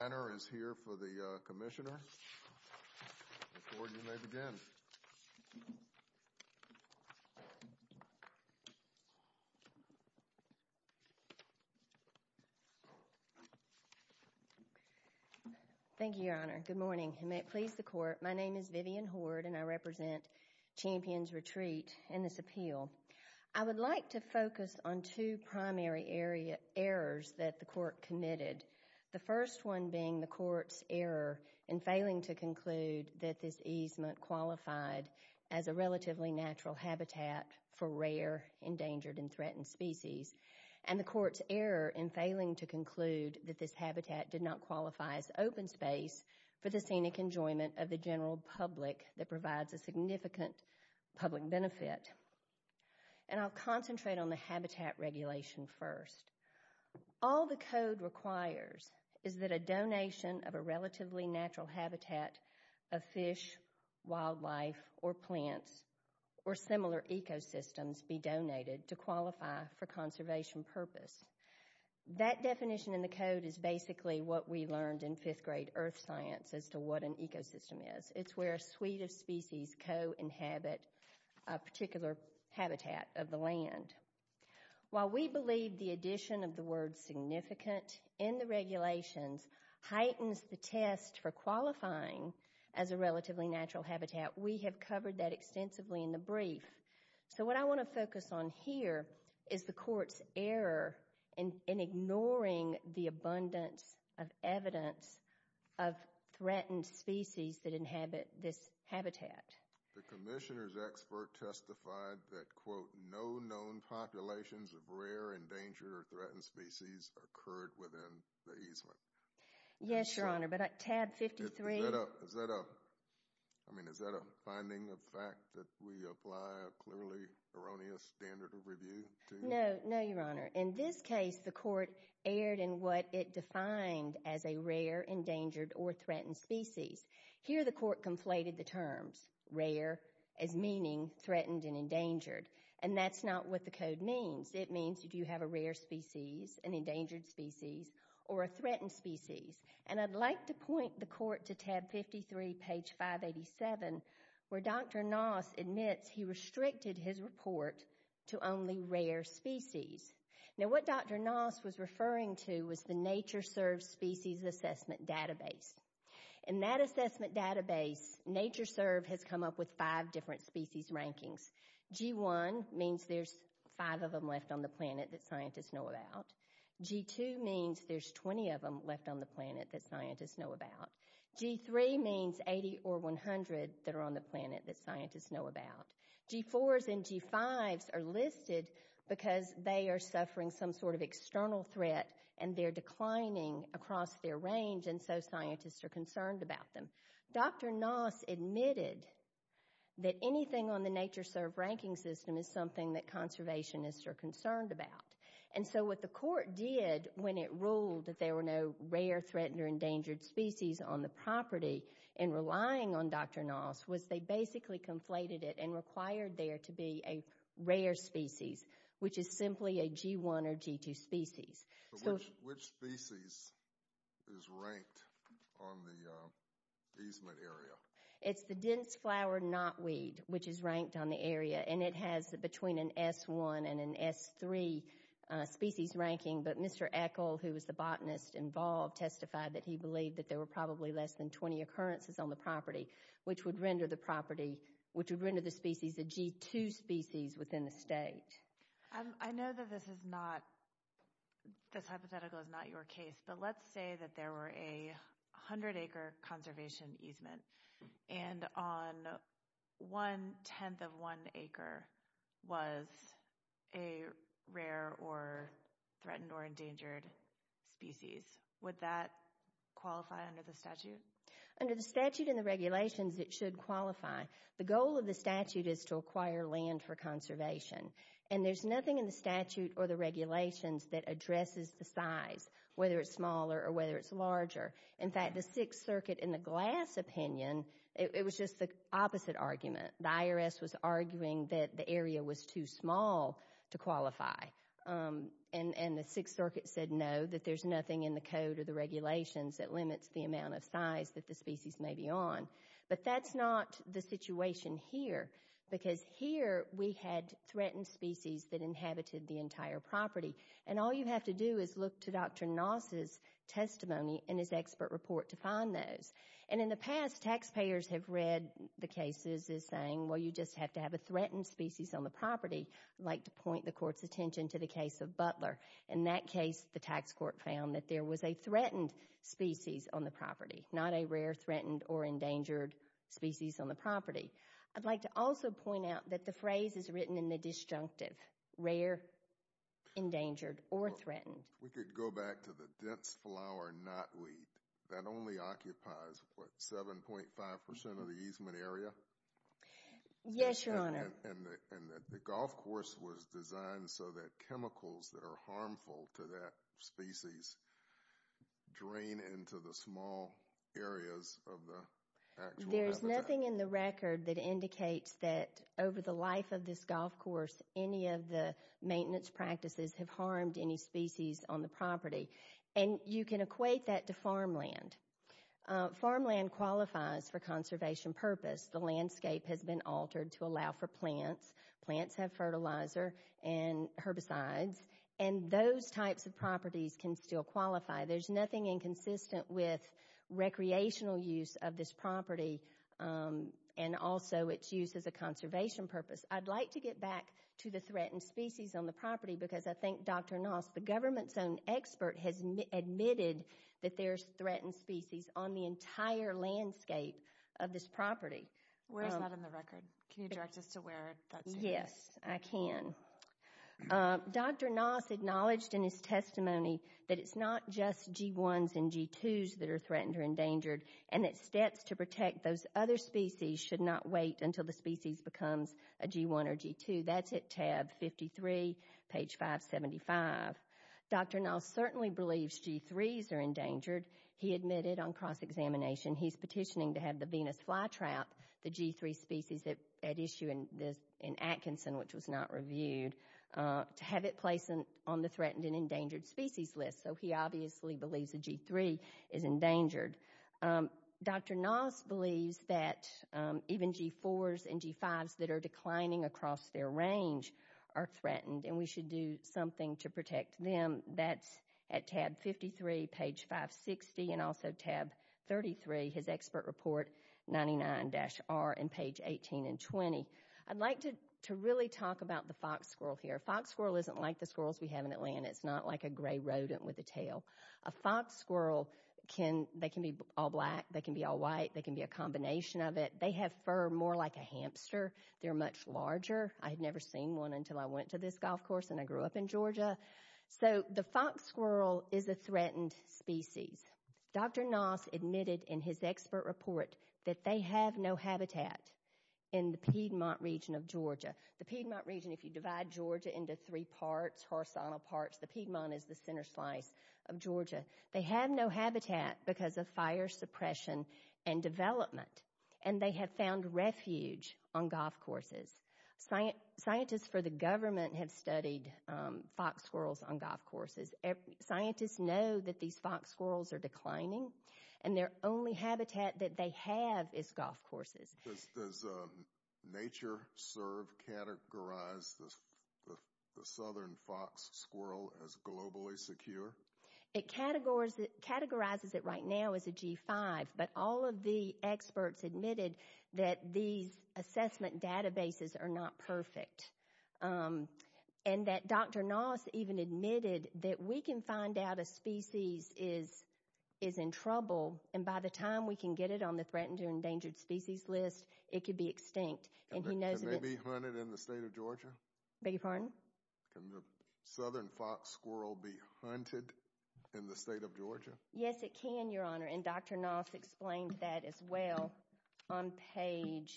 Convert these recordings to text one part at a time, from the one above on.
Vivian Hoard, I would like to focus on two primary errors that the court committed. The first one being the court's error in failing to conclude that this easement qualified as a relatively natural habitat for rare, endangered, and threatened species. And the court's error in failing to conclude that this habitat did not qualify as open space for the scenic enjoyment of the general public that provides a significant public benefit. And I'll concentrate on the habitat regulation first. All the code requires is that a donation of a relatively natural habitat of fish, wildlife, or plants, or similar ecosystems be donated to qualify for conservation purpose. That definition in the code is basically what we learned in fifth grade earth science as to what an ecosystem is. It's where a suite of species co-inhabit a particular habitat of the land. While we believe the addition of the word significant in the regulations heightens the test for qualifying as a relatively natural habitat, we have covered that extensively in the brief. So what I want to focus on here is the court's error in ignoring the abundance of evidence of threatened species that inhabit this habitat. The commissioner's expert testified that, quote, no known populations of rare, endangered, or threatened species occurred within the easement. Yes, Your Honor, but tab 53... Is that a, I mean, is that a finding of fact that we apply a clearly erroneous standard of review to? No, no, Your Honor. In this case, the court erred in what it defined as a rare, endangered, or threatened species. Here, the court conflated the terms rare as meaning threatened and endangered, and that's not what the code means. It means do you have a rare species, an endangered species, or a threatened species? And I'd like to point the court to tab 53, page 587, where Dr. Noss admits he restricted his report to only rare species. Now, what Dr. Noss was referring to was the Nature Serves Species Assessment Database, and that assessment database, Nature Serve, has come up with five different species rankings. G1 means there's five of them left on the planet that scientists know about. G2 means there's 20 of them left on the planet that scientists know about. G3 means 80 or 100 that are on the planet that scientists know about. G4s and G5s are listed because they are suffering some sort of external threat, and they're concerned about them. Dr. Noss admitted that anything on the Nature Serve ranking system is something that conservationists are concerned about, and so what the court did when it ruled that there were no rare, threatened, or endangered species on the property, and relying on Dr. Noss, was they basically conflated it and required there to be a rare species, which is simply a G1 or G2 species. Which species is ranked on the easement area? It's the dense flower knotweed, which is ranked on the area, and it has between an S1 and an S3 species ranking, but Mr. Echol, who was the botanist involved, testified that he believed that there were probably less than 20 occurrences on the property, which would render the species a G2 species within the state. I know that this hypothetical is not your case, but let's say that there were a 100 acre conservation easement, and on one-tenth of one acre was a rare or threatened or endangered species. Would that qualify under the statute? Under the statute and the regulations, it should qualify. The goal of the statute is to acquire land for conservation, and there's nothing in the statute or the regulations that addresses the size, whether it's smaller or whether it's larger. In fact, the Sixth Circuit, in the Glass opinion, it was just the opposite argument. The IRS was arguing that the area was too small to qualify, and the Sixth Circuit said no, that there's nothing in the code or the regulations that limits the amount of size that the species may be on. But that's not the situation here, because here we had threatened species that inhabited the entire property, and all you have to do is look to Dr. Noss' testimony and his expert report to find those. And in the past, taxpayers have read the cases as saying, well, you just have to have a threatened species on the property, like to point the court's attention to the case of Butler. In that case, the tax court found that there was a threatened species on the property, not a rare, threatened, or endangered species on the property. I'd like to also point out that the phrase is written in the disjunctive, rare, endangered, or threatened. We could go back to the dense flower knotweed. That only occupies, what, 7.5% of the easement area? Yes, Your Honor. And the golf course was designed so that chemicals that are harmful to that species drain into the small areas of the actual habitat. There's nothing in the record that indicates that over the life of this golf course, any of the maintenance practices have harmed any species on the property. And you can equate that to farmland. Farmland qualifies for conservation purpose. The landscape has been altered to allow for plants. Plants have fertilizer and herbicides, and those types of properties can still qualify. There's nothing inconsistent with recreational use of this property, and also its use as a conservation purpose. I'd like to get back to the threatened species on the property, because I think Dr. Noss, the government's own expert, has admitted that there's threatened species on the entire landscape of this property. Where is that in the record? Can you direct us to where that's in the record? Yes, I can. Dr. Noss acknowledged in his testimony that it's not just G1s and G2s that are threatened or endangered, and that steps to protect those other species should not wait until the species becomes a G1 or G2. That's at tab 53, page 575. Dr. Noss certainly believes G3s are endangered. He admitted on cross-examination, he's petitioning to have the Venus flytrap, the G3 species at issue in Atkinson, which was not reviewed, to have it placed on the threatened and endangered species list. He obviously believes the G3 is endangered. Dr. Noss believes that even G4s and G5s that are declining across their range are threatened, and we should do something to protect them. That's at tab 53, page 560, and also tab 33, his expert report, 99-R, and page 18 and 20. I'd like to really talk about the fox squirrel here. Fox squirrel isn't like the squirrels we have in Atlanta. It's not like a gray rodent with a tail. A fox squirrel, they can be all black, they can be all white, they can be a combination of it. They have fur more like a hamster. They're much larger. I had never seen one until I went to this golf course and I grew up in Georgia. So the fox squirrel is a threatened species. Dr. Noss admitted in his expert report that they have no habitat in the Piedmont region of Georgia. The Piedmont region, if you divide Georgia into three parts, horizontal parts, the Piedmont is the center slice of Georgia. They have no habitat because of fire suppression and development, and they have found refuge on golf courses. Scientists for the government have studied fox squirrels on golf courses. Scientists know that these fox squirrels are declining, and their only habitat that they have is golf courses. Does NatureServe categorize the southern fox squirrel as globally secure? It categorizes it right now as a G5, but all of the experts admitted that these assessment databases are not perfect, and that Dr. Noss even admitted that we can find out a species is in trouble, and by the time we can get it on the threatened or endangered species list, it could be extinct. Can they be hunted in the state of Georgia? Beg your pardon? Can the southern fox squirrel be hunted in the state of Georgia? Yes, it can, Your Honor, and Dr. Noss explained that as well on page,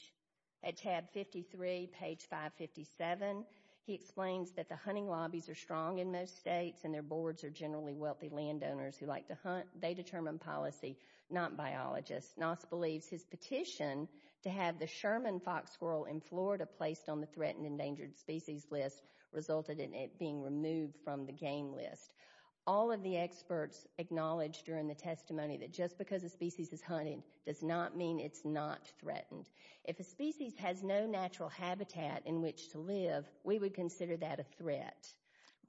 at tab 53, page 557. He explains that the hunting lobbies are strong in most states, and their boards are generally wealthy landowners who like to hunt. They determine policy, not biologists. Noss believes his petition to have the Sherman fox squirrel in Florida placed on the threatened endangered species list resulted in it being removed from the game list. All of the experts acknowledged during the testimony that just because a species is hunted does not mean it's not threatened. If a species has no natural habitat in which to live, we would consider that a threat.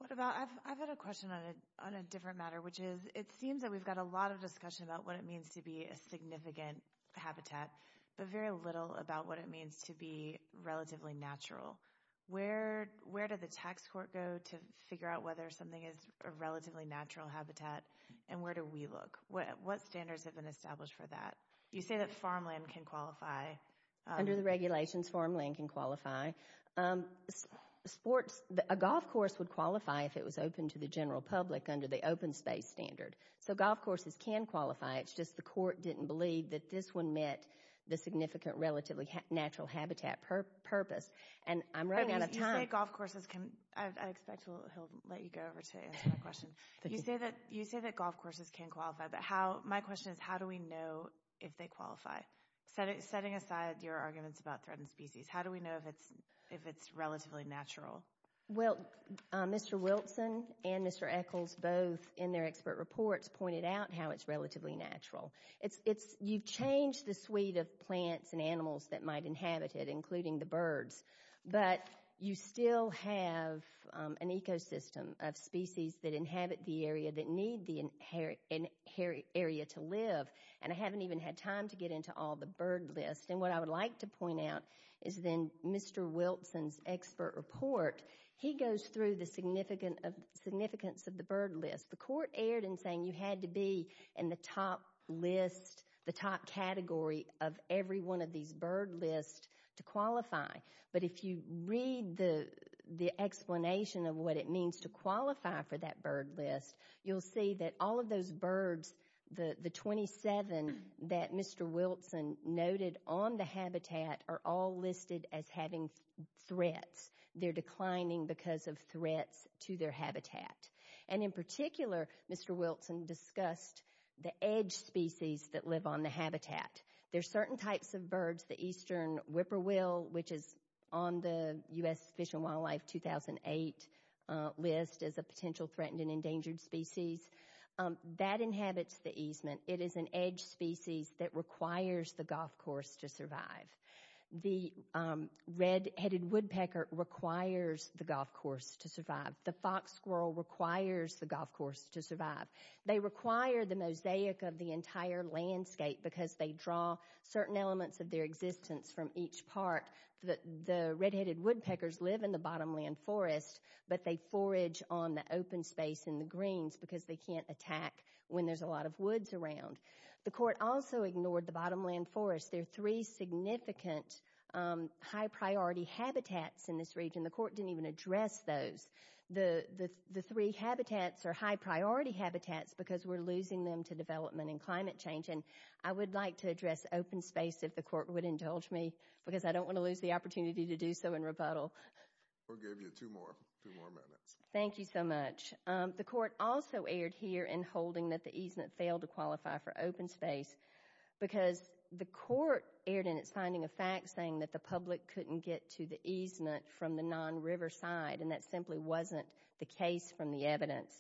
I've got a question on a different matter, which is it seems that we've got a lot of discussion about what it means to be a significant habitat, but very little about what it means to be relatively natural. Where did the tax court go to figure out whether something is a relatively natural habitat, and where do we look? What standards have been established for that? You say that farmland can qualify. Under the regulations, farmland can qualify. A golf course would qualify if it was open to the general public under the open space standard. So golf courses can qualify, it's just the court didn't believe that this one met the significant relatively natural habitat purpose, and I'm running out of time. You say golf courses can, I expect he'll let you go over to answer my question. You say that golf courses can qualify, but my question is how do we know if they qualify? Setting aside your arguments about threatened species, how do we know if it's relatively natural? Well, Mr. Wilson and Mr. Echols both in their expert reports pointed out how it's relatively natural. You've changed the suite of plants and animals that might inhabit it, including the birds, but you still have an ecosystem of species that inhabit the area that need the area to live, and I haven't even had time to get into all the bird lists. And what I would like to point out is in Mr. Wilson's expert report, he goes through the significance of the bird list. The court erred in saying you had to be in the top list, the top category, of every one of these bird lists to qualify. But if you read the explanation of what it means to qualify for that bird list, you'll see that all of those birds, the 27 that Mr. Wilson noted on the habitat, are all listed as having threats. They're declining because of threats to their habitat. And in particular, Mr. Wilson discussed the edge species that live on the habitat. There are certain types of birds, the eastern whippoorwill, which is on the U.S. Fish and Wildlife 2008 list as a potential threatened and endangered species, that inhabits the easement. It is an edge species that requires the golf course to survive. The red-headed woodpecker requires the golf course to survive. The fox squirrel requires the golf course to survive. They require the mosaic of the entire landscape because they draw certain elements of their existence from each part. The red-headed woodpeckers live in the bottomland forest, but they forage on the open space in the greens because they can't attack when there's a lot of woods around. The court also ignored the bottomland forest. There are three significant high-priority habitats in this region. The court didn't even address those. The three habitats are high-priority habitats because we're losing them to development and climate change. And I would like to address open space if the court would indulge me because I don't want to lose the opportunity to do so in rebuttal. We'll give you two more minutes. Thank you so much. The court also erred here in holding that the easement failed to qualify for open space because the court erred in its finding of facts saying that the public couldn't get to the easement from the non-riverside, and that simply wasn't the case from the evidence.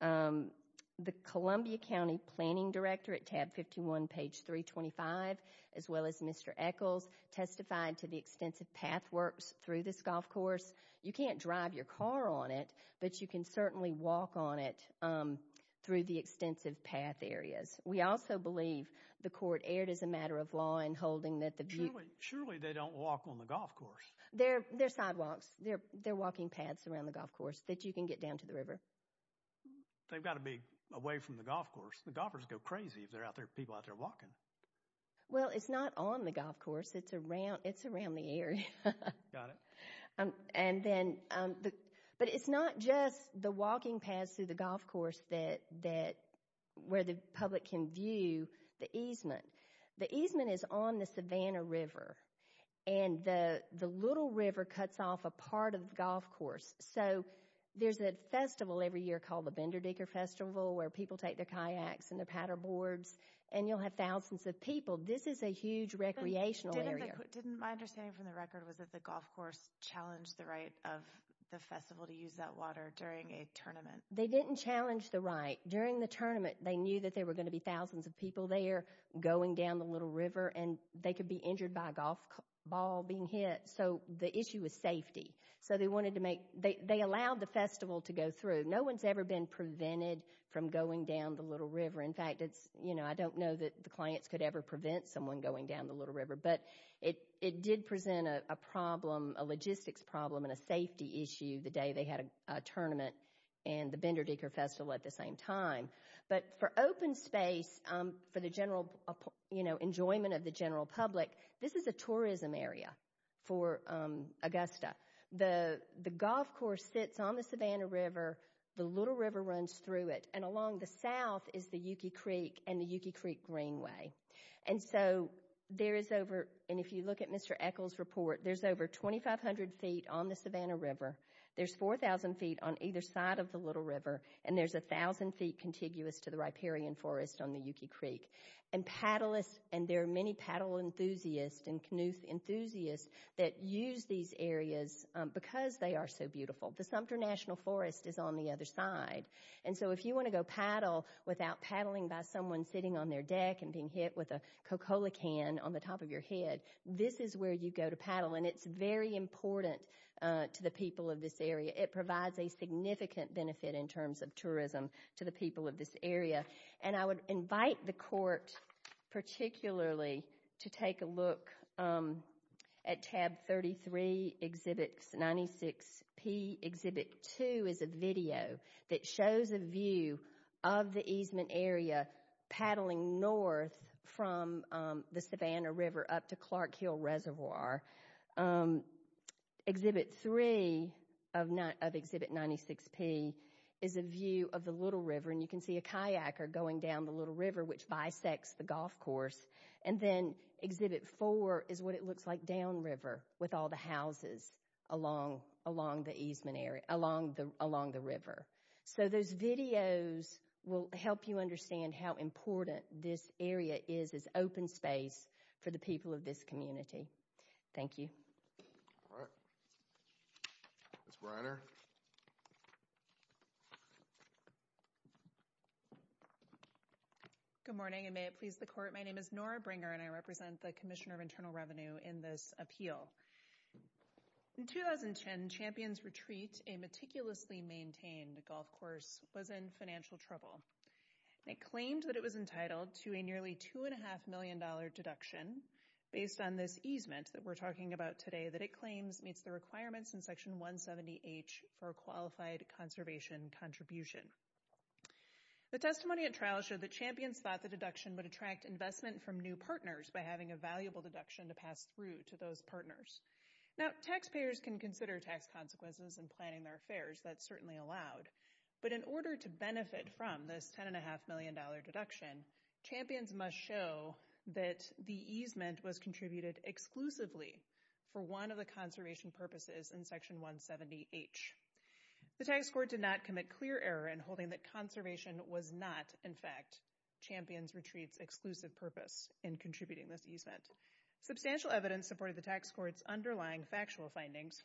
The Columbia County Planning Directorate, tab 51, page 325, as well as Mr. Echols, testified to the extensive pathworks through this golf course. You can't drive your car on it, but you can certainly walk on it through the extensive path areas. We also believe the court erred as a matter of law in holding that the people surely they don't walk on the golf course. They're sidewalks. They're walking paths around the golf course that you can get down to the river. They've got to be away from the golf course. The golfers go crazy if there are people out there walking. Well, it's not on the golf course. It's around the area. Got it. But it's not just the walking paths through the golf course where the public can view the easement. The easement is on the Savannah River, and the little river cuts off a part of the golf course. So there's a festival every year called the Bender Digger Festival where people take their kayaks and their paddle boards, and you'll have thousands of people. This is a huge recreational area. But didn't my understanding from the record was that the golf course challenged the right of the festival to use that water during a tournament? They didn't challenge the right. During the tournament, they knew that there were going to be thousands of people there going down the little river, and they could be injured by a golf ball being hit. So the issue was safety. So they allowed the festival to go through. No one's ever been prevented from going down the little river. In fact, I don't know that the clients could ever prevent someone going down the little river. But it did present a problem, a logistics problem, and a safety issue the day they had a tournament and the Bender Digger Festival at the same time. But for open space, for the general enjoyment of the general public, this is a tourism area for Augusta. The golf course sits on the Savannah River. The little river runs through it, and along the south is the Yuki Creek and the Yuki Creek Greenway. And so there is over, and if you look at Mr. Eckel's report, there's over 2,500 feet on the Savannah River. There's 4,000 feet on either side of the little river, and there's 1,000 feet contiguous to the riparian forest on the Yuki Creek. And there are many paddle enthusiasts and canoe enthusiasts that use these areas because they are so beautiful. The Sumter National Forest is on the other side. And so if you want to go paddle without paddling by someone sitting on their deck and being hit with a Coca-Cola can on the top of your head, this is where you go to paddle. And it's very important to the people of this area. It provides a significant benefit in terms of tourism to the people of this area. And I would invite the court particularly to take a look at Tab 33, Exhibit 96P. Exhibit 2 is a video that shows a view of the easement area paddling north from the Savannah River up to Clark Hill Reservoir. Exhibit 3 of Exhibit 96P is a view of the little river, and you can see a kayaker going down the little river which bisects the golf course. And then Exhibit 4 is what it looks like downriver with all the houses along the river. So those videos will help you understand how important this area is as open space for the people of this community. All right. Ms. Briner. Ms. Briner. Good morning, and may it please the court. My name is Nora Briner, and I represent the Commissioner of Internal Revenue in this appeal. In 2010, Champions Retreat, a meticulously maintained golf course, was in financial trouble. It claimed that it was entitled to a nearly $2.5 million deduction based on this easement that we're talking about today that it claims meets the requirements in Section 170H for a qualified conservation contribution. The testimony at trial showed that Champions thought the deduction would attract investment from new partners by having a valuable deduction to pass through to those partners. Now, taxpayers can consider tax consequences in planning their affairs. That's certainly allowed. But in order to benefit from this $10.5 million deduction, Champions must show that the easement was contributed exclusively for one of the conservation purposes in Section 170H. The tax court did not commit clear error in holding that conservation was not, in fact, Champions Retreat's exclusive purpose in contributing this easement. Substantial evidence supported the tax court's underlying factual findings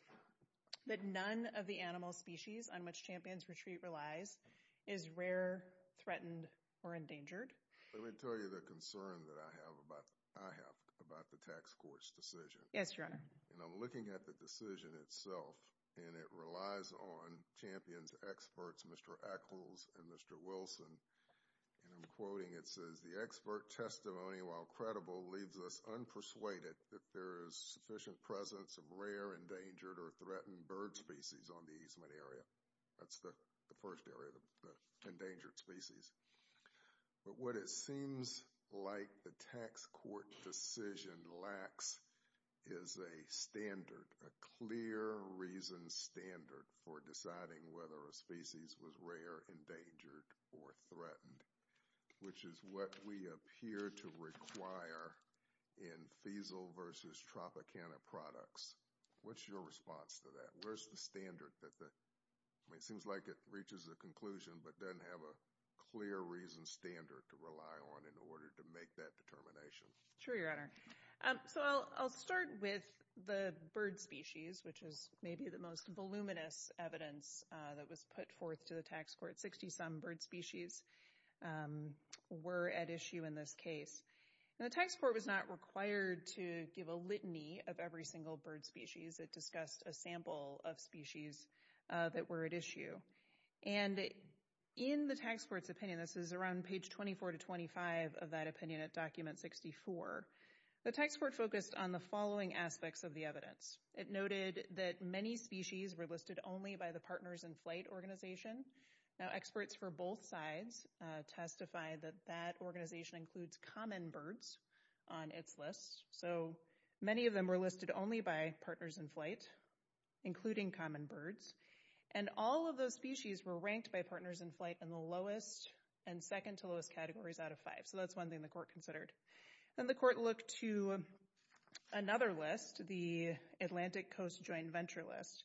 that none of the animal species on which Champions Retreat relies is rare, threatened, or endangered. Let me tell you the concern that I have about the tax court's decision. Yes, Your Honor. And I'm looking at the decision itself, and it relies on Champions' experts, Mr. Echols and Mr. Wilson, and I'm quoting. It says, The expert testimony, while credible, leaves us unpersuaded that there is sufficient presence of rare, endangered, or threatened bird species on the easement area. That's the first area, the endangered species. But what it seems like the tax court decision lacks is a standard, a clear reason standard for deciding whether a species was rare, endangered, or threatened, which is what we appear to require in feasel versus tropicana products. What's your response to that? Where's the standard? It seems like it reaches a conclusion but doesn't have a clear reason standard to rely on in order to make that determination. Sure, Your Honor. So I'll start with the bird species, which is maybe the most voluminous evidence that was put forth to the tax court. Sixty-some bird species were at issue in this case. The tax court was not required to give a litany of every single bird species. It discussed a sample of species that were at issue. And in the tax court's opinion, this is around page 24 to 25 of that opinion at document 64, the tax court focused on the following aspects of the evidence. It noted that many species were listed only by the Partners in Flight organization. Now experts for both sides testified that that organization includes common birds on its list. So many of them were listed only by Partners in Flight, including common birds. And all of those species were ranked by Partners in Flight in the lowest and second to lowest categories out of five. So that's one thing the court considered. Then the court looked to another list, the Atlantic Coast Joint Venture List,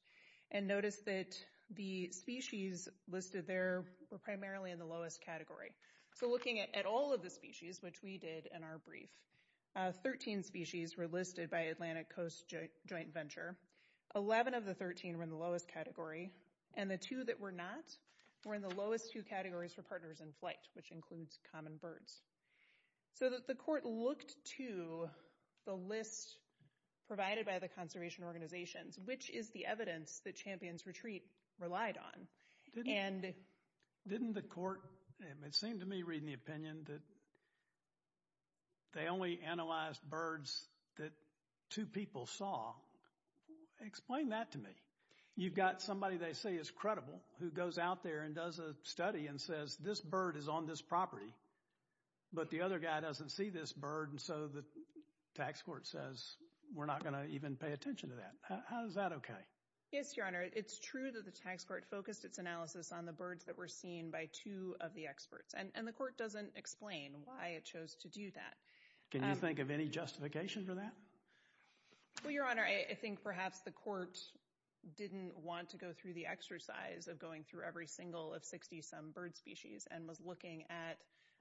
and noticed that the species listed there were primarily in the lowest category. So looking at all of the species, which we did in our brief, 13 species were listed by Atlantic Coast Joint Venture. Eleven of the 13 were in the lowest category. And the two that were not were in the lowest two categories for Partners in Flight, which includes common birds. So the court looked to the list provided by the conservation organizations, which is the evidence that Champions Retreat relied on. Didn't the court, it seemed to me reading the opinion, that they only analyzed birds that two people saw? Explain that to me. You've got somebody they say is credible who goes out there and does a study and says this bird is on this property, but the other guy doesn't see this bird, and so the tax court says we're not going to even pay attention to that. Is that okay? Yes, Your Honor. It's true that the tax court focused its analysis on the birds that were seen by two of the experts, and the court doesn't explain why it chose to do that. Can you think of any justification for that? Well, Your Honor, I think perhaps the court didn't want to go through the exercise of going through every single of 60-some bird species and was looking at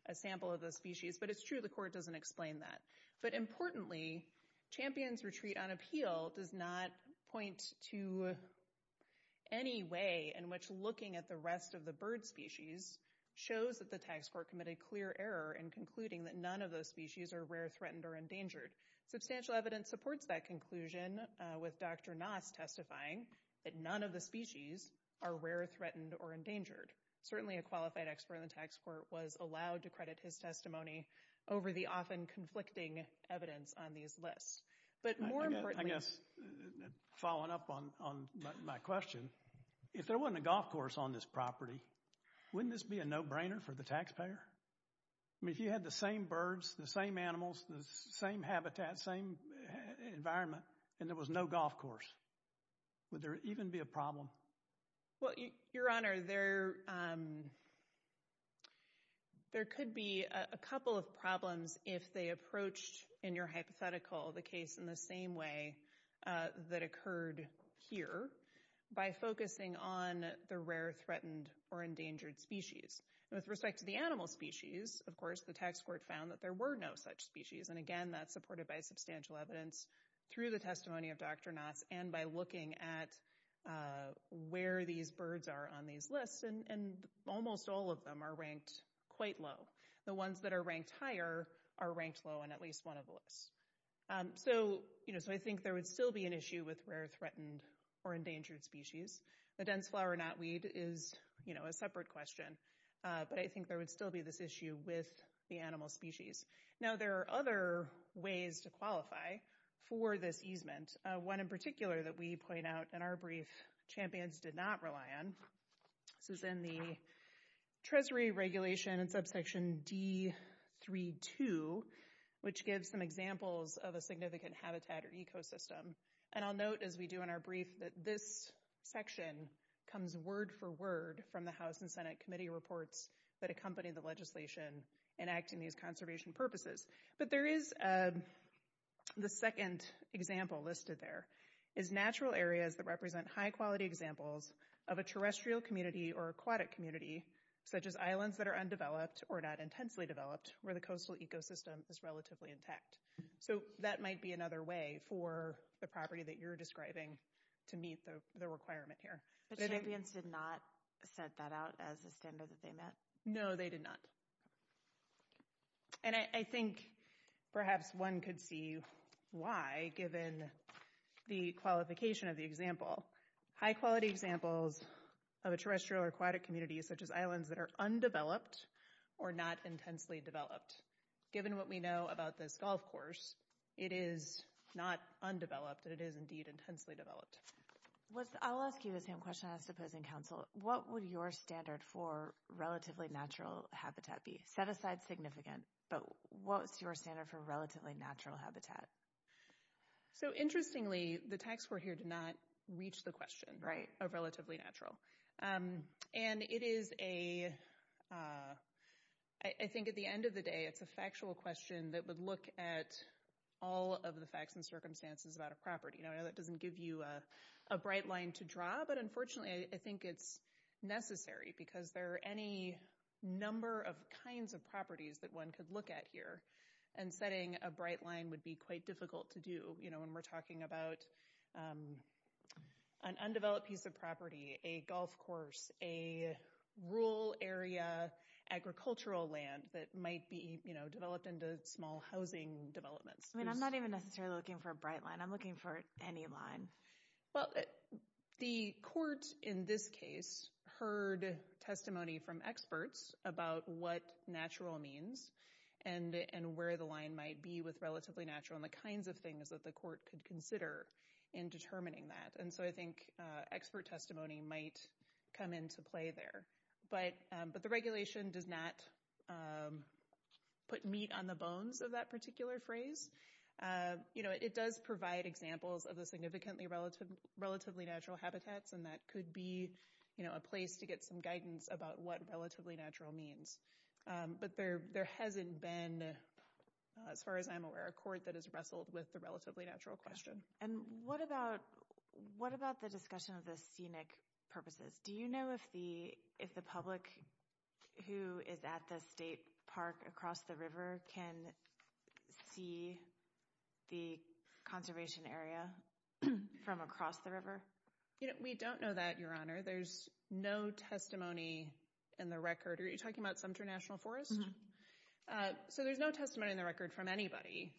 a sample of the species, but it's true the court doesn't explain that. But importantly, Champions Retreat on appeal does not point to any way in which looking at the rest of the bird species shows that the tax court committed clear error in concluding that none of those species are rare, threatened, or endangered. Substantial evidence supports that conclusion with Dr. Noss testifying that none of the species are rare, threatened, or endangered. Certainly a qualified expert in the tax court was allowed to credit his testimony over the often conflicting evidence on these lists. But more importantly— I guess following up on my question, if there wasn't a golf course on this property, wouldn't this be a no-brainer for the taxpayer? I mean, if you had the same birds, the same animals, the same habitat, same environment, and there was no golf course, would there even be a problem? Well, Your Honor, there could be a couple of problems if they approached, in your hypothetical, the case in the same way that occurred here by focusing on the rare, threatened, or endangered species. With respect to the animal species, of course, the tax court found that there were no such species. And again, that's supported by substantial evidence through the testimony of Dr. Noss and by looking at where these birds are on these lists. And almost all of them are ranked quite low. The ones that are ranked higher are ranked low on at least one of the lists. So I think there would still be an issue with rare, threatened, or endangered species. The dense flower knotweed is a separate question. But I think there would still be this issue with the animal species. Now, there are other ways to qualify for this easement. One in particular that we point out in our brief, champions did not rely on. This is in the Treasury Regulation in Subsection D-3-2, which gives some examples of a significant habitat or ecosystem. And I'll note, as we do in our brief, that this section comes word for word from the House and Senate Committee reports that accompany the legislation enacting these conservation purposes. But there is the second example listed there, is natural areas that represent high-quality examples of a terrestrial community or aquatic community, such as islands that are undeveloped or not intensely developed, where the coastal ecosystem is relatively intact. So that might be another way for the property that you're describing to meet the requirement here. But champions did not set that out as a standard that they met? No, they did not. And I think perhaps one could see why, given the qualification of the example. High-quality examples of a terrestrial or aquatic community, such as islands that are undeveloped or not intensely developed. Given what we know about this golf course, it is not undeveloped, it is indeed intensely developed. I'll ask you the same question I was supposed to ask Council. What would your standard for relatively natural habitat be? Set aside significant, but what's your standard for relatively natural habitat? So interestingly, the tax court here did not reach the question of relatively natural. And it is a, I think at the end of the day, it's a factual question that would look at all of the facts and circumstances about a property. I know that doesn't give you a bright line to draw, but unfortunately I think it's necessary, because there are any number of kinds of properties that one could look at here. And setting a bright line would be quite difficult to do when we're talking about an undeveloped piece of property, a golf course, a rural area agricultural land that might be developed into small housing developments. I mean, I'm not even necessarily looking for a bright line. I'm looking for any line. Well, the court in this case heard testimony from experts about what natural means and where the line might be with relatively natural and the kinds of things that the court could consider in determining that. And so I think expert testimony might come into play there. But the regulation does not put meat on the bones of that particular phrase. It does provide examples of the significantly relatively natural habitats, and that could be a place to get some guidance about what relatively natural means. But there hasn't been, as far as I'm aware, a court that has wrestled with the relatively natural question. And what about the discussion of the scenic purposes? Do you know if the public who is at the state park across the river can see the conservation area from across the river? We don't know that, Your Honor. There's no testimony in the record. Are you talking about Sumter National Forest? So there's no testimony in the record from anybody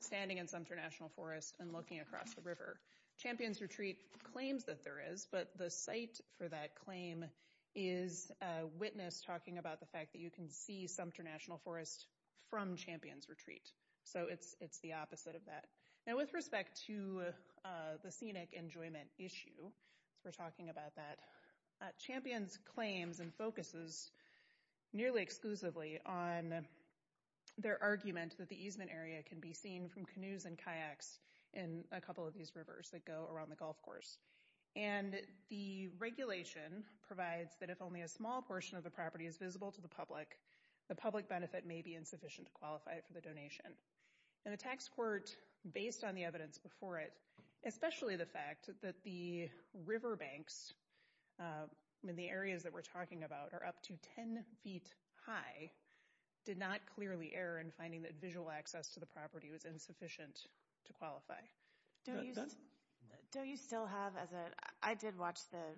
standing in Sumter National Forest and looking across the river. Champion's Retreat claims that there is, but the site for that claim is witness talking about the fact that you can see Sumter National Forest from Champion's Retreat. So it's the opposite of that. Now, with respect to the scenic enjoyment issue, as we're talking about that, Champion's claims and focuses nearly exclusively on their argument that the easement area can be seen from canoes and kayaks in a couple of these rivers that go around the golf course. And the regulation provides that if only a small portion of the property is visible to the public, the public benefit may be insufficient to qualify it for the donation. And the tax court, based on the evidence before it, especially the fact that the riverbanks in the areas that we're talking about are up to 10 feet high, did not clearly err in finding that visual access to the property was insufficient to qualify. Don? Don, you still have as a—I did watch the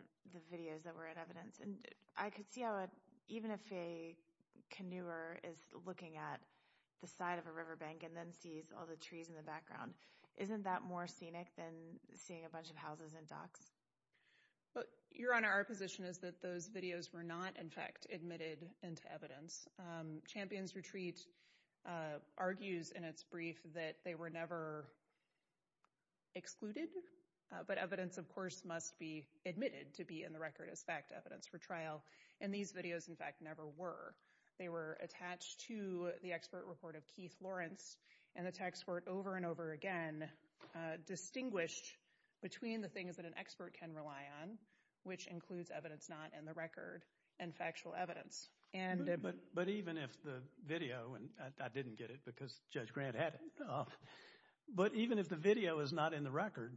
videos that were in evidence, and I could see how even if a canoer is looking at the side of a riverbank and then sees all the trees in the background, isn't that more scenic than seeing a bunch of houses and docks? Your Honor, our position is that those videos were not, in fact, admitted into evidence. Champions Retreat argues in its brief that they were never excluded, but evidence, of course, must be admitted to be in the record as fact, evidence for trial. And these videos, in fact, never were. They were attached to the expert report of Keith Lawrence, and the tax court over and over again distinguished between the things that an expert can rely on, which includes evidence not in the record and factual evidence. But even if the video, and I didn't get it because Judge Grant had it, but even if the video is not in the record,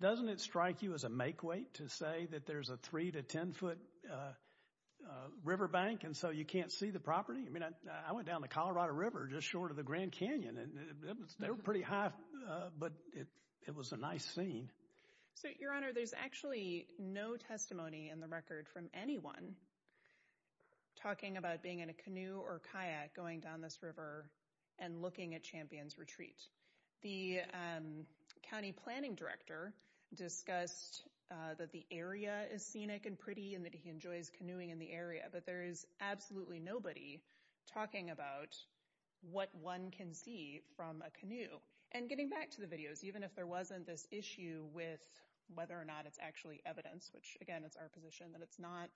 doesn't it strike you as a make-weight to say that there's a 3-10-foot riverbank and so you can't see the property? I mean, I went down the Colorado River just short of the Grand Canyon, and they were pretty high, but it was a nice scene. So, Your Honor, there's actually no testimony in the record from anyone talking about being in a canoe or kayak going down this river and looking at Champions Retreat. The county planning director discussed that the area is scenic and pretty and that he enjoys canoeing in the area, but there is absolutely nobody talking about what one can see from a canoe. And getting back to the videos, even if there wasn't this issue with whether or not it's actually evidence, which, again, it's our position that it's not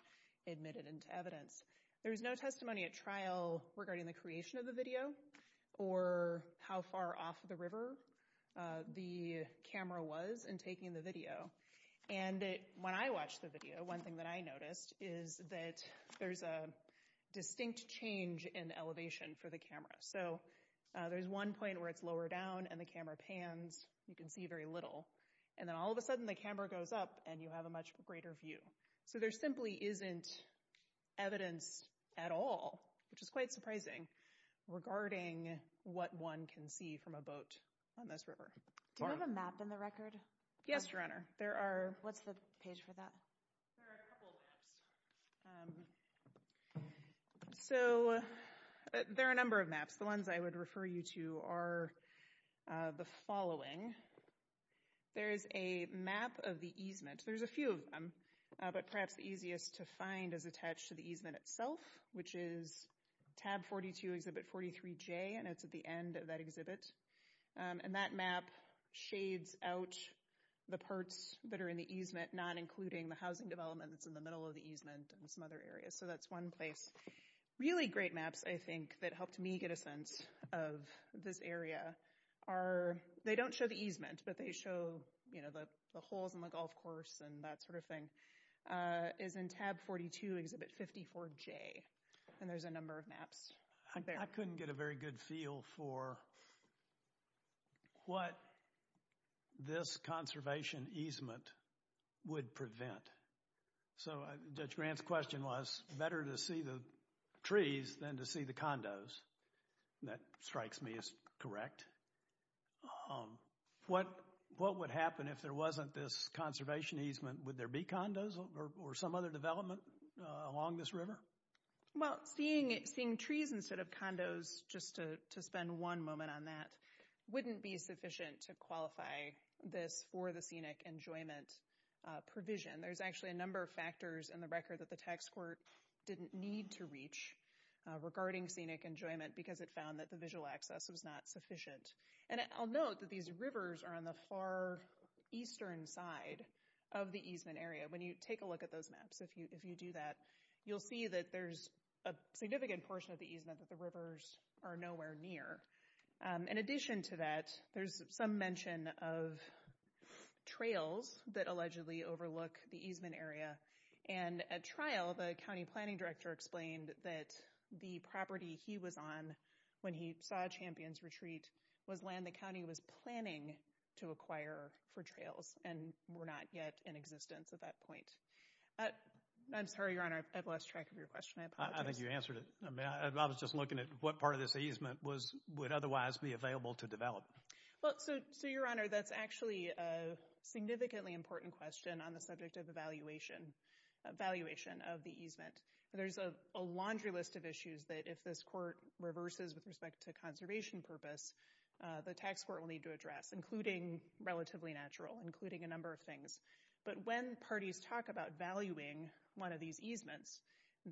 admitted into evidence, there's no testimony at trial regarding the creation of the video or how far off the river the camera was in taking the video. And when I watched the video, one thing that I noticed is that there's a distinct change in elevation for the camera. So there's one point where it's lower down and the camera pans, you can see very little, and then all of a sudden the camera goes up and you have a much greater view. So there simply isn't evidence at all, which is quite surprising, regarding what one can see from a boat on this river. Do you have a map in the record? Yes, Your Honor. What's the page for that? There are a couple of maps. So there are a number of maps. The ones I would refer you to are the following. There is a map of the easement. There's a few of them, but perhaps the easiest to find is attached to the easement itself, which is tab 42, exhibit 43J, and it's at the end of that exhibit. And that map shades out the parts that are in the easement, not including the housing development that's in the middle of the easement and some other areas. So that's one place. Really great maps, I think, that helped me get a sense of this area. They don't show the easement, but they show the holes in the golf course and that sort of thing. It's in tab 42, exhibit 54J, and there's a number of maps. I couldn't get a very good feel for what this conservation easement would prevent. So Judge Grant's question was better to see the trees than to see the condos. That strikes me as correct. What would happen if there wasn't this conservation easement? Would there be condos or some other development along this river? Well, seeing trees instead of condos, just to spend one moment on that, wouldn't be sufficient to qualify this for the scenic enjoyment provision. There's actually a number of factors in the record that the tax court didn't need to reach regarding scenic enjoyment because it found that the visual access was not sufficient. And I'll note that these rivers are on the far eastern side of the easement area. When you take a look at those maps, if you do that, you'll see that there's a significant portion of the easement that the rivers are nowhere near. In addition to that, there's some mention of trails that allegedly overlook the easement area. And at trial, the county planning director explained that the property he was on when he saw Champions Retreat was land the county was planning to acquire for trails and were not yet in existence at that point. I'm sorry, Your Honor, I've lost track of your question. I apologize. I think you answered it. I was just looking at what part of this easement would otherwise be available to develop. Well, so, Your Honor, that's actually a significantly important question on the subject of evaluation of the easement. There's a laundry list of issues that if this court reverses with respect to conservation purpose, the tax court will need to address, including relatively natural, including a number of things. But when parties talk about valuing one of these easements,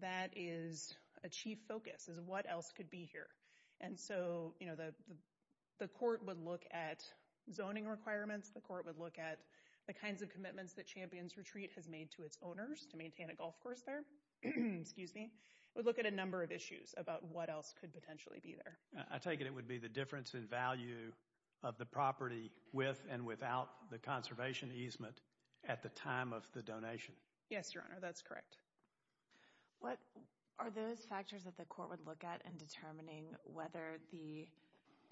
that is a chief focus, is what else could be here. And so, you know, the court would look at zoning requirements. The court would look at the kinds of commitments that Champions Retreat has made to its owners to maintain a golf course there. It would look at a number of issues about what else could potentially be there. I take it it would be the difference in value of the property with and without the conservation easement at the time of the donation. Yes, Your Honor, that's correct. What are those factors that the court would look at in determining whether the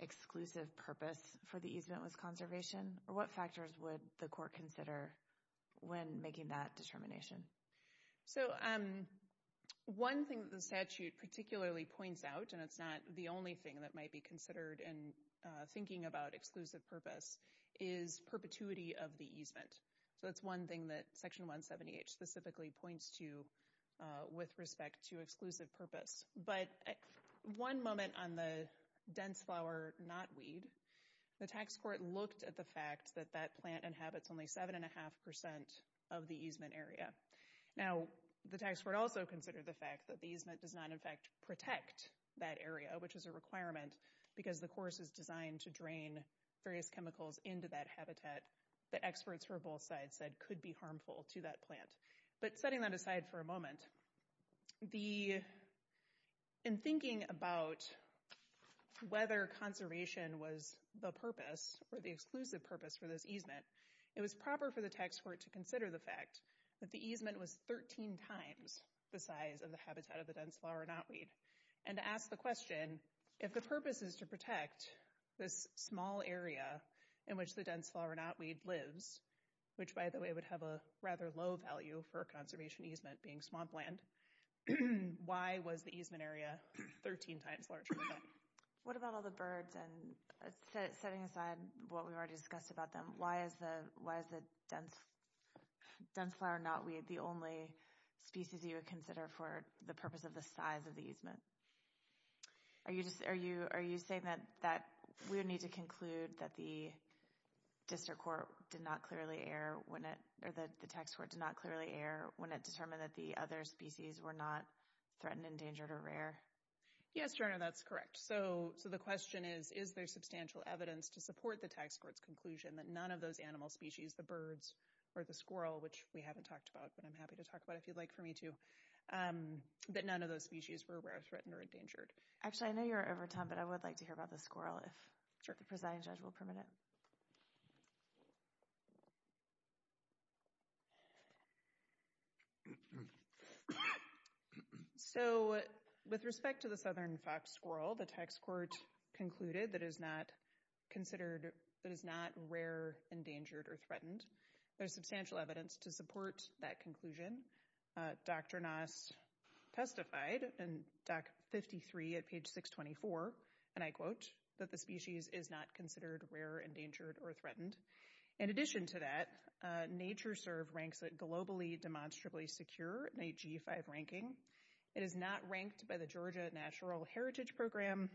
exclusive purpose for the easement was conservation? Or what factors would the court consider when making that determination? So one thing that the statute particularly points out, and it's not the only thing that might be considered in thinking about exclusive purpose, is perpetuity of the easement. So that's one thing that Section 178 specifically points to with respect to exclusive purpose. But one moment on the dense flower, not weed, the tax court looked at the fact that that plant inhabits only 7.5% of the easement area. Now, the tax court also considered the fact that the easement does not, in fact, protect that area, which is a requirement because the course is designed to drain various chemicals into that habitat that experts from both sides said could be harmful to that plant. But setting that aside for a moment, in thinking about whether conservation was the purpose, or the exclusive purpose for this easement, it was proper for the tax court to consider the fact that the easement was 13 times the size of the habitat of the dense flower, not weed. And to ask the question, if the purpose is to protect this small area in which the dense flower, not weed, lives, which, by the way, would have a rather low value for a conservation easement being swamp land, why was the easement area 13 times larger than that? What about all the birds? And setting aside what we already discussed about them, why is the dense flower, not weed, the only species you would consider Are you saying that we would need to conclude that the district court did not clearly err, or the tax court did not clearly err when it determined that the other species were not threatened, endangered, or rare? Yes, Joanna, that's correct. So the question is, is there substantial evidence to support the tax court's conclusion that none of those animal species, the birds or the squirrel, which we haven't talked about, but I'm happy to talk about if you'd like for me to, that none of those species were rare, threatened, or endangered? Actually, I know you're out of time, but I would like to hear about the squirrel if the presiding judge will permit it. So with respect to the southern fox squirrel, the tax court concluded that it is not considered, that it is not rare, endangered, or threatened. There's substantial evidence to support that conclusion. Dr. Nass testified in Doc 53 at page 624, and I quote, that the species is not considered rare, endangered, or threatened. In addition to that, NatureServe ranks it globally demonstrably secure in a G5 ranking. It is not ranked by the Georgia Natural Heritage Program,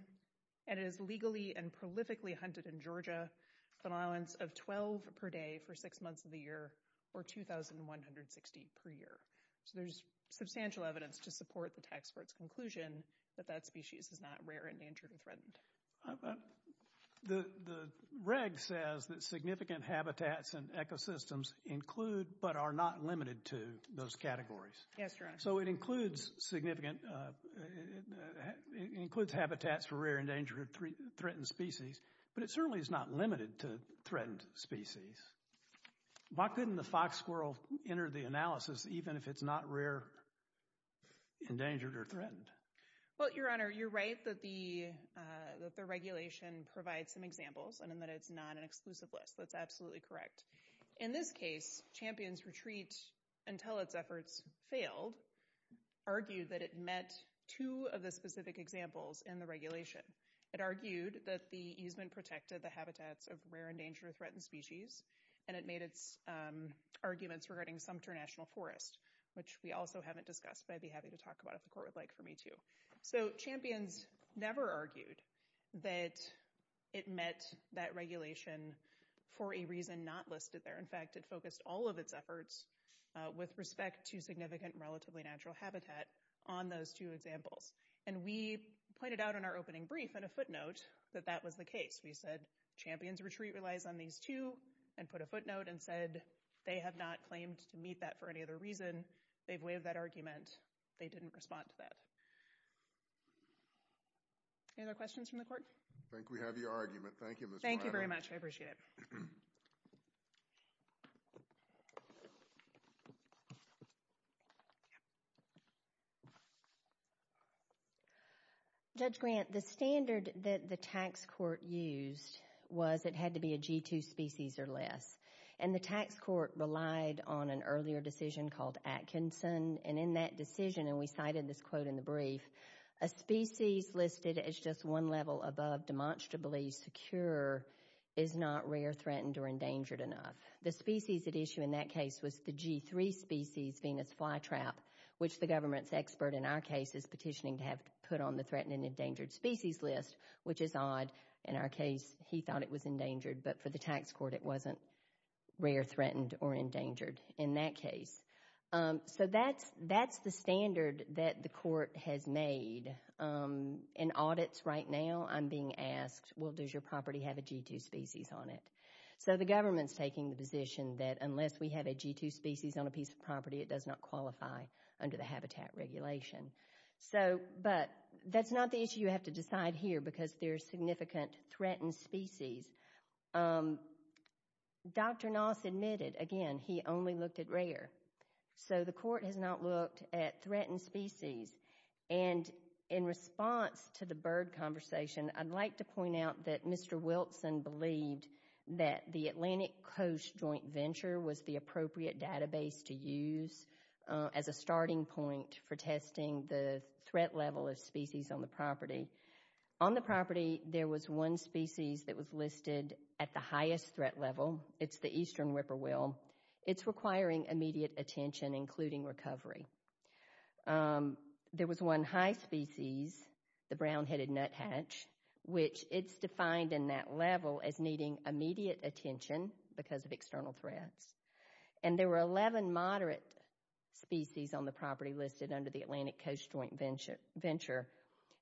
and it is legally and prolifically hunted in Georgia with an allowance of 12 per day for six months of the year, or 2,160 per year. So there's substantial evidence to support the tax court's conclusion that that species is not rare, endangered, or threatened. The reg says that significant habitats and ecosystems include but are not limited to those categories. Yes, Your Honor. So it includes significant, it includes habitats for rare, endangered, threatened species, but it certainly is not limited to threatened species. Why couldn't the fox squirrel enter the analysis even if it's not rare, endangered, or threatened? Well, Your Honor, you're right that the regulation provides some examples and that it's not an exclusive list. That's absolutely correct. In this case, Champions Retreat, until its efforts failed, argued that it met two of the specific examples in the regulation. It argued that the easement protected the habitats of rare, endangered, threatened species, and it made its arguments regarding Sumter National Forest, which we also haven't discussed, but I'd be happy to talk about it if the court would like for me to. So Champions never argued that it met that regulation for a reason not listed there. In fact, it focused all of its efforts with respect to significant, relatively natural habitat on those two examples. And we pointed out in our opening brief in a footnote that that was the case. We said, Champions Retreat relies on these two, and put a footnote and said, they have not claimed to meet that for any other reason. They've waived that argument. They didn't respond to that. Any other questions from the court? I think we have your argument. Thank you, Ms. Weidel. Thank you very much. I appreciate it. Thank you. Judge Grant, the standard that the tax court used was it had to be a G2 species or less. And the tax court relied on an earlier decision called Atkinson, and in that decision, and we cited this quote in the brief, a species listed as just one level above demonstrably secure is not rare, threatened, or endangered enough. The species at issue in that case was the G3 species, Venus flytrap, which the government's expert in our case is petitioning to have put on the threatened and endangered species list, which is odd. In our case, he thought it was endangered, but for the tax court it wasn't rare, threatened, or endangered in that case. So that's the standard that the court has made. In audits right now, I'm being asked, well, does your property have a G2 species on it? So the government's taking the position that unless we have a G2 species on a piece of property, it does not qualify under the habitat regulation. But that's not the issue you have to decide here because there's significant threatened species. Dr. Noss admitted, again, he only looked at rare. So the court has not looked at threatened species. And in response to the bird conversation, I'd like to point out that Mr. Wilson believed that the Atlantic Coast Joint Venture was the appropriate database to use as a starting point for testing the threat level of species on the property. On the property, there was one species that was listed at the highest threat level. It's the eastern whippoorwill. It's requiring immediate attention, including recovery. There was one high species, the brown-headed nuthatch, which it's defined in that level as needing immediate attention because of external threats. And there were 11 moderate species on the property listed under the Atlantic Coast Joint Venture.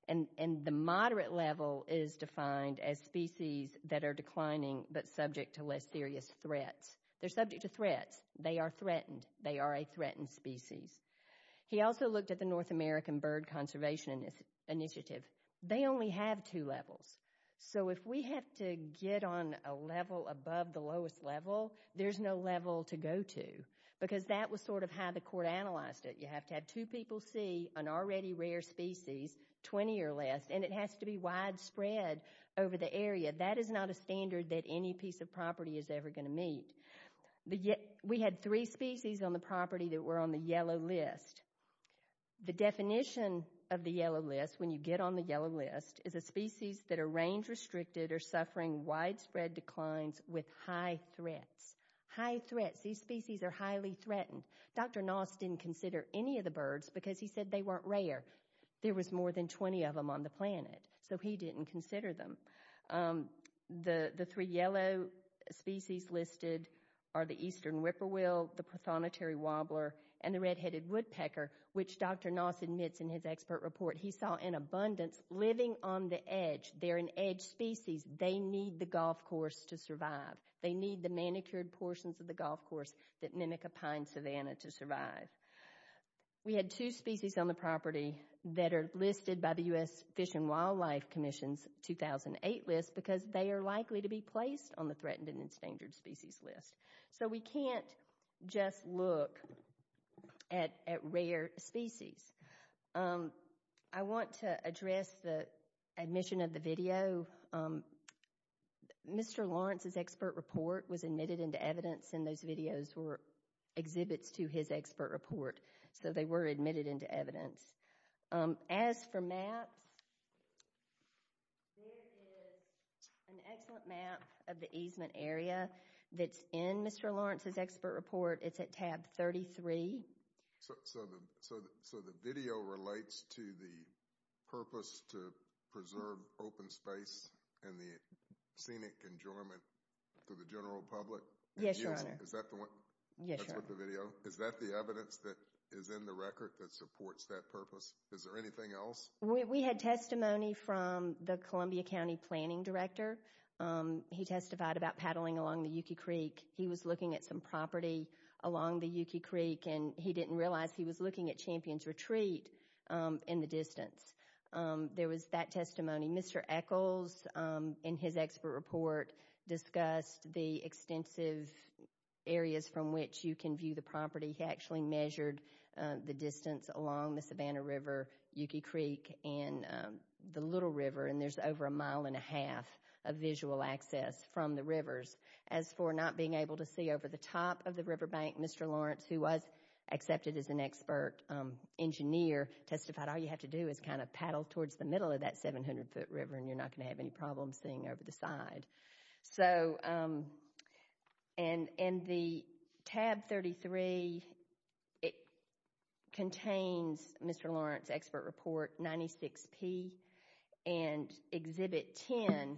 And the moderate level is defined as species that are declining but subject to less serious threats. They're subject to threats. They are threatened. They are a threatened species. He also looked at the North American Bird Conservation Initiative. They only have two levels. So if we have to get on a level above the lowest level, there's no level to go to because that was sort of how the court analyzed it. You have to have two people see an already rare species, 20 or less, and it has to be widespread over the area. That is not a standard that any piece of property is ever going to meet. We had three species on the property that were on the yellow list. The definition of the yellow list, when you get on the yellow list, is a species that are range-restricted or suffering widespread declines with high threats. High threats. These species are highly threatened. Dr. Noss didn't consider any of the birds because he said they weren't rare. There was more than 20 of them on the planet, so he didn't consider them. The three yellow species listed are the eastern whippoorwill, the prothonotary wobbler, and the red-headed woodpecker, which Dr. Noss admits in his expert report, he saw an abundance living on the edge. They're an edge species. They need the golf course to survive. They need the manicured portions of the golf course that mimic a pine savanna to survive. We had two species on the property that are listed by the U.S. Fish and Wildlife Commission's 2008 list because they are likely to be placed on the threatened and endangered species list. So we can't just look at rare species. I want to address the admission of the video. Mr. Lawrence's expert report was admitted into evidence, and those videos were exhibits to his expert report, so they were admitted into evidence. As for maps, there is an excellent map of the easement area that's in Mr. Lawrence's expert report. It's at tab 33. So the video relates to the purpose to preserve open space and the scenic enjoyment to the general public? Yes, Your Honor. Is that the one? Yes, Your Honor. Is that the video? Is that the evidence that is in the record that supports that purpose? Is there anything else? We had testimony from the Columbia County Planning Director. He testified about paddling along the Yuki Creek. He was looking at some property along the Yuki Creek, and he didn't realize he was looking at Champion's Retreat in the distance. There was that testimony. Mr. Echols, in his expert report, discussed the extensive areas from which you can view the property. He actually measured the distance along the Savannah River, Yuki Creek, and the Little River, and there's over a mile and a half of visual access from the rivers. As for not being able to see over the top of the riverbank, Mr. Lawrence, who was accepted as an expert engineer, testified all you have to do is kind of paddle towards the middle of that 700-foot river, and you're not going to have any problems seeing over the side. In the tab 33, it contains Mr. Lawrence's expert report 96P, and exhibit 10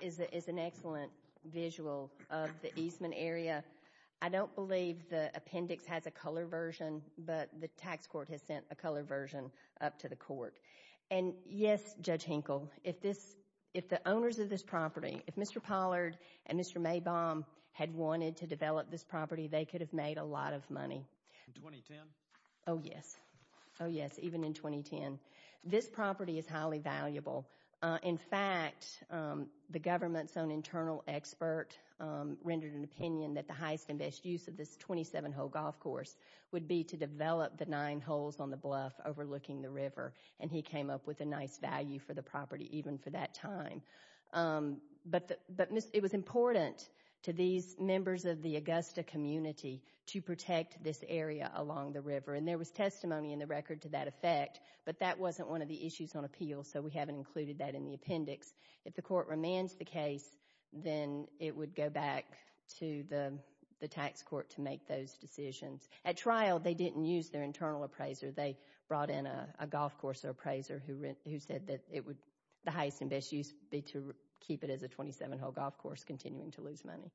is an excellent visual of the Eastman area. I don't believe the appendix has a color version, but the tax court has sent a color version up to the court. Yes, Judge Henkel, if the owners of this property, if Mr. Pollard and Mr. Maybaum had wanted to develop this property, they could have made a lot of money. In 2010? Oh, yes. Oh, yes, even in 2010. This property is highly valuable. In fact, the government's own internal expert rendered an opinion that the highest and best use of this 27-hole golf course would be to develop the nine holes on the bluff overlooking the river, and he came up with a nice value for the property even for that time. But it was important to these members of the Augusta community to protect this area along the river, and there was testimony in the record to that effect, but that wasn't one of the issues on appeal, so we haven't included that in the appendix. If the court remands the case, then it would go back to the tax court to make those decisions. At trial, they didn't use their internal appraiser. They brought in a golf course appraiser who said that the highest and best use would be to keep it as a 27-hole golf course, continuing to lose money.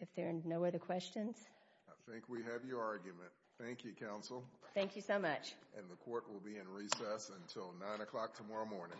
If there are no other questions? I think we have your argument. Thank you, counsel. Thank you so much. And the court will be in recess until 9 o'clock tomorrow morning.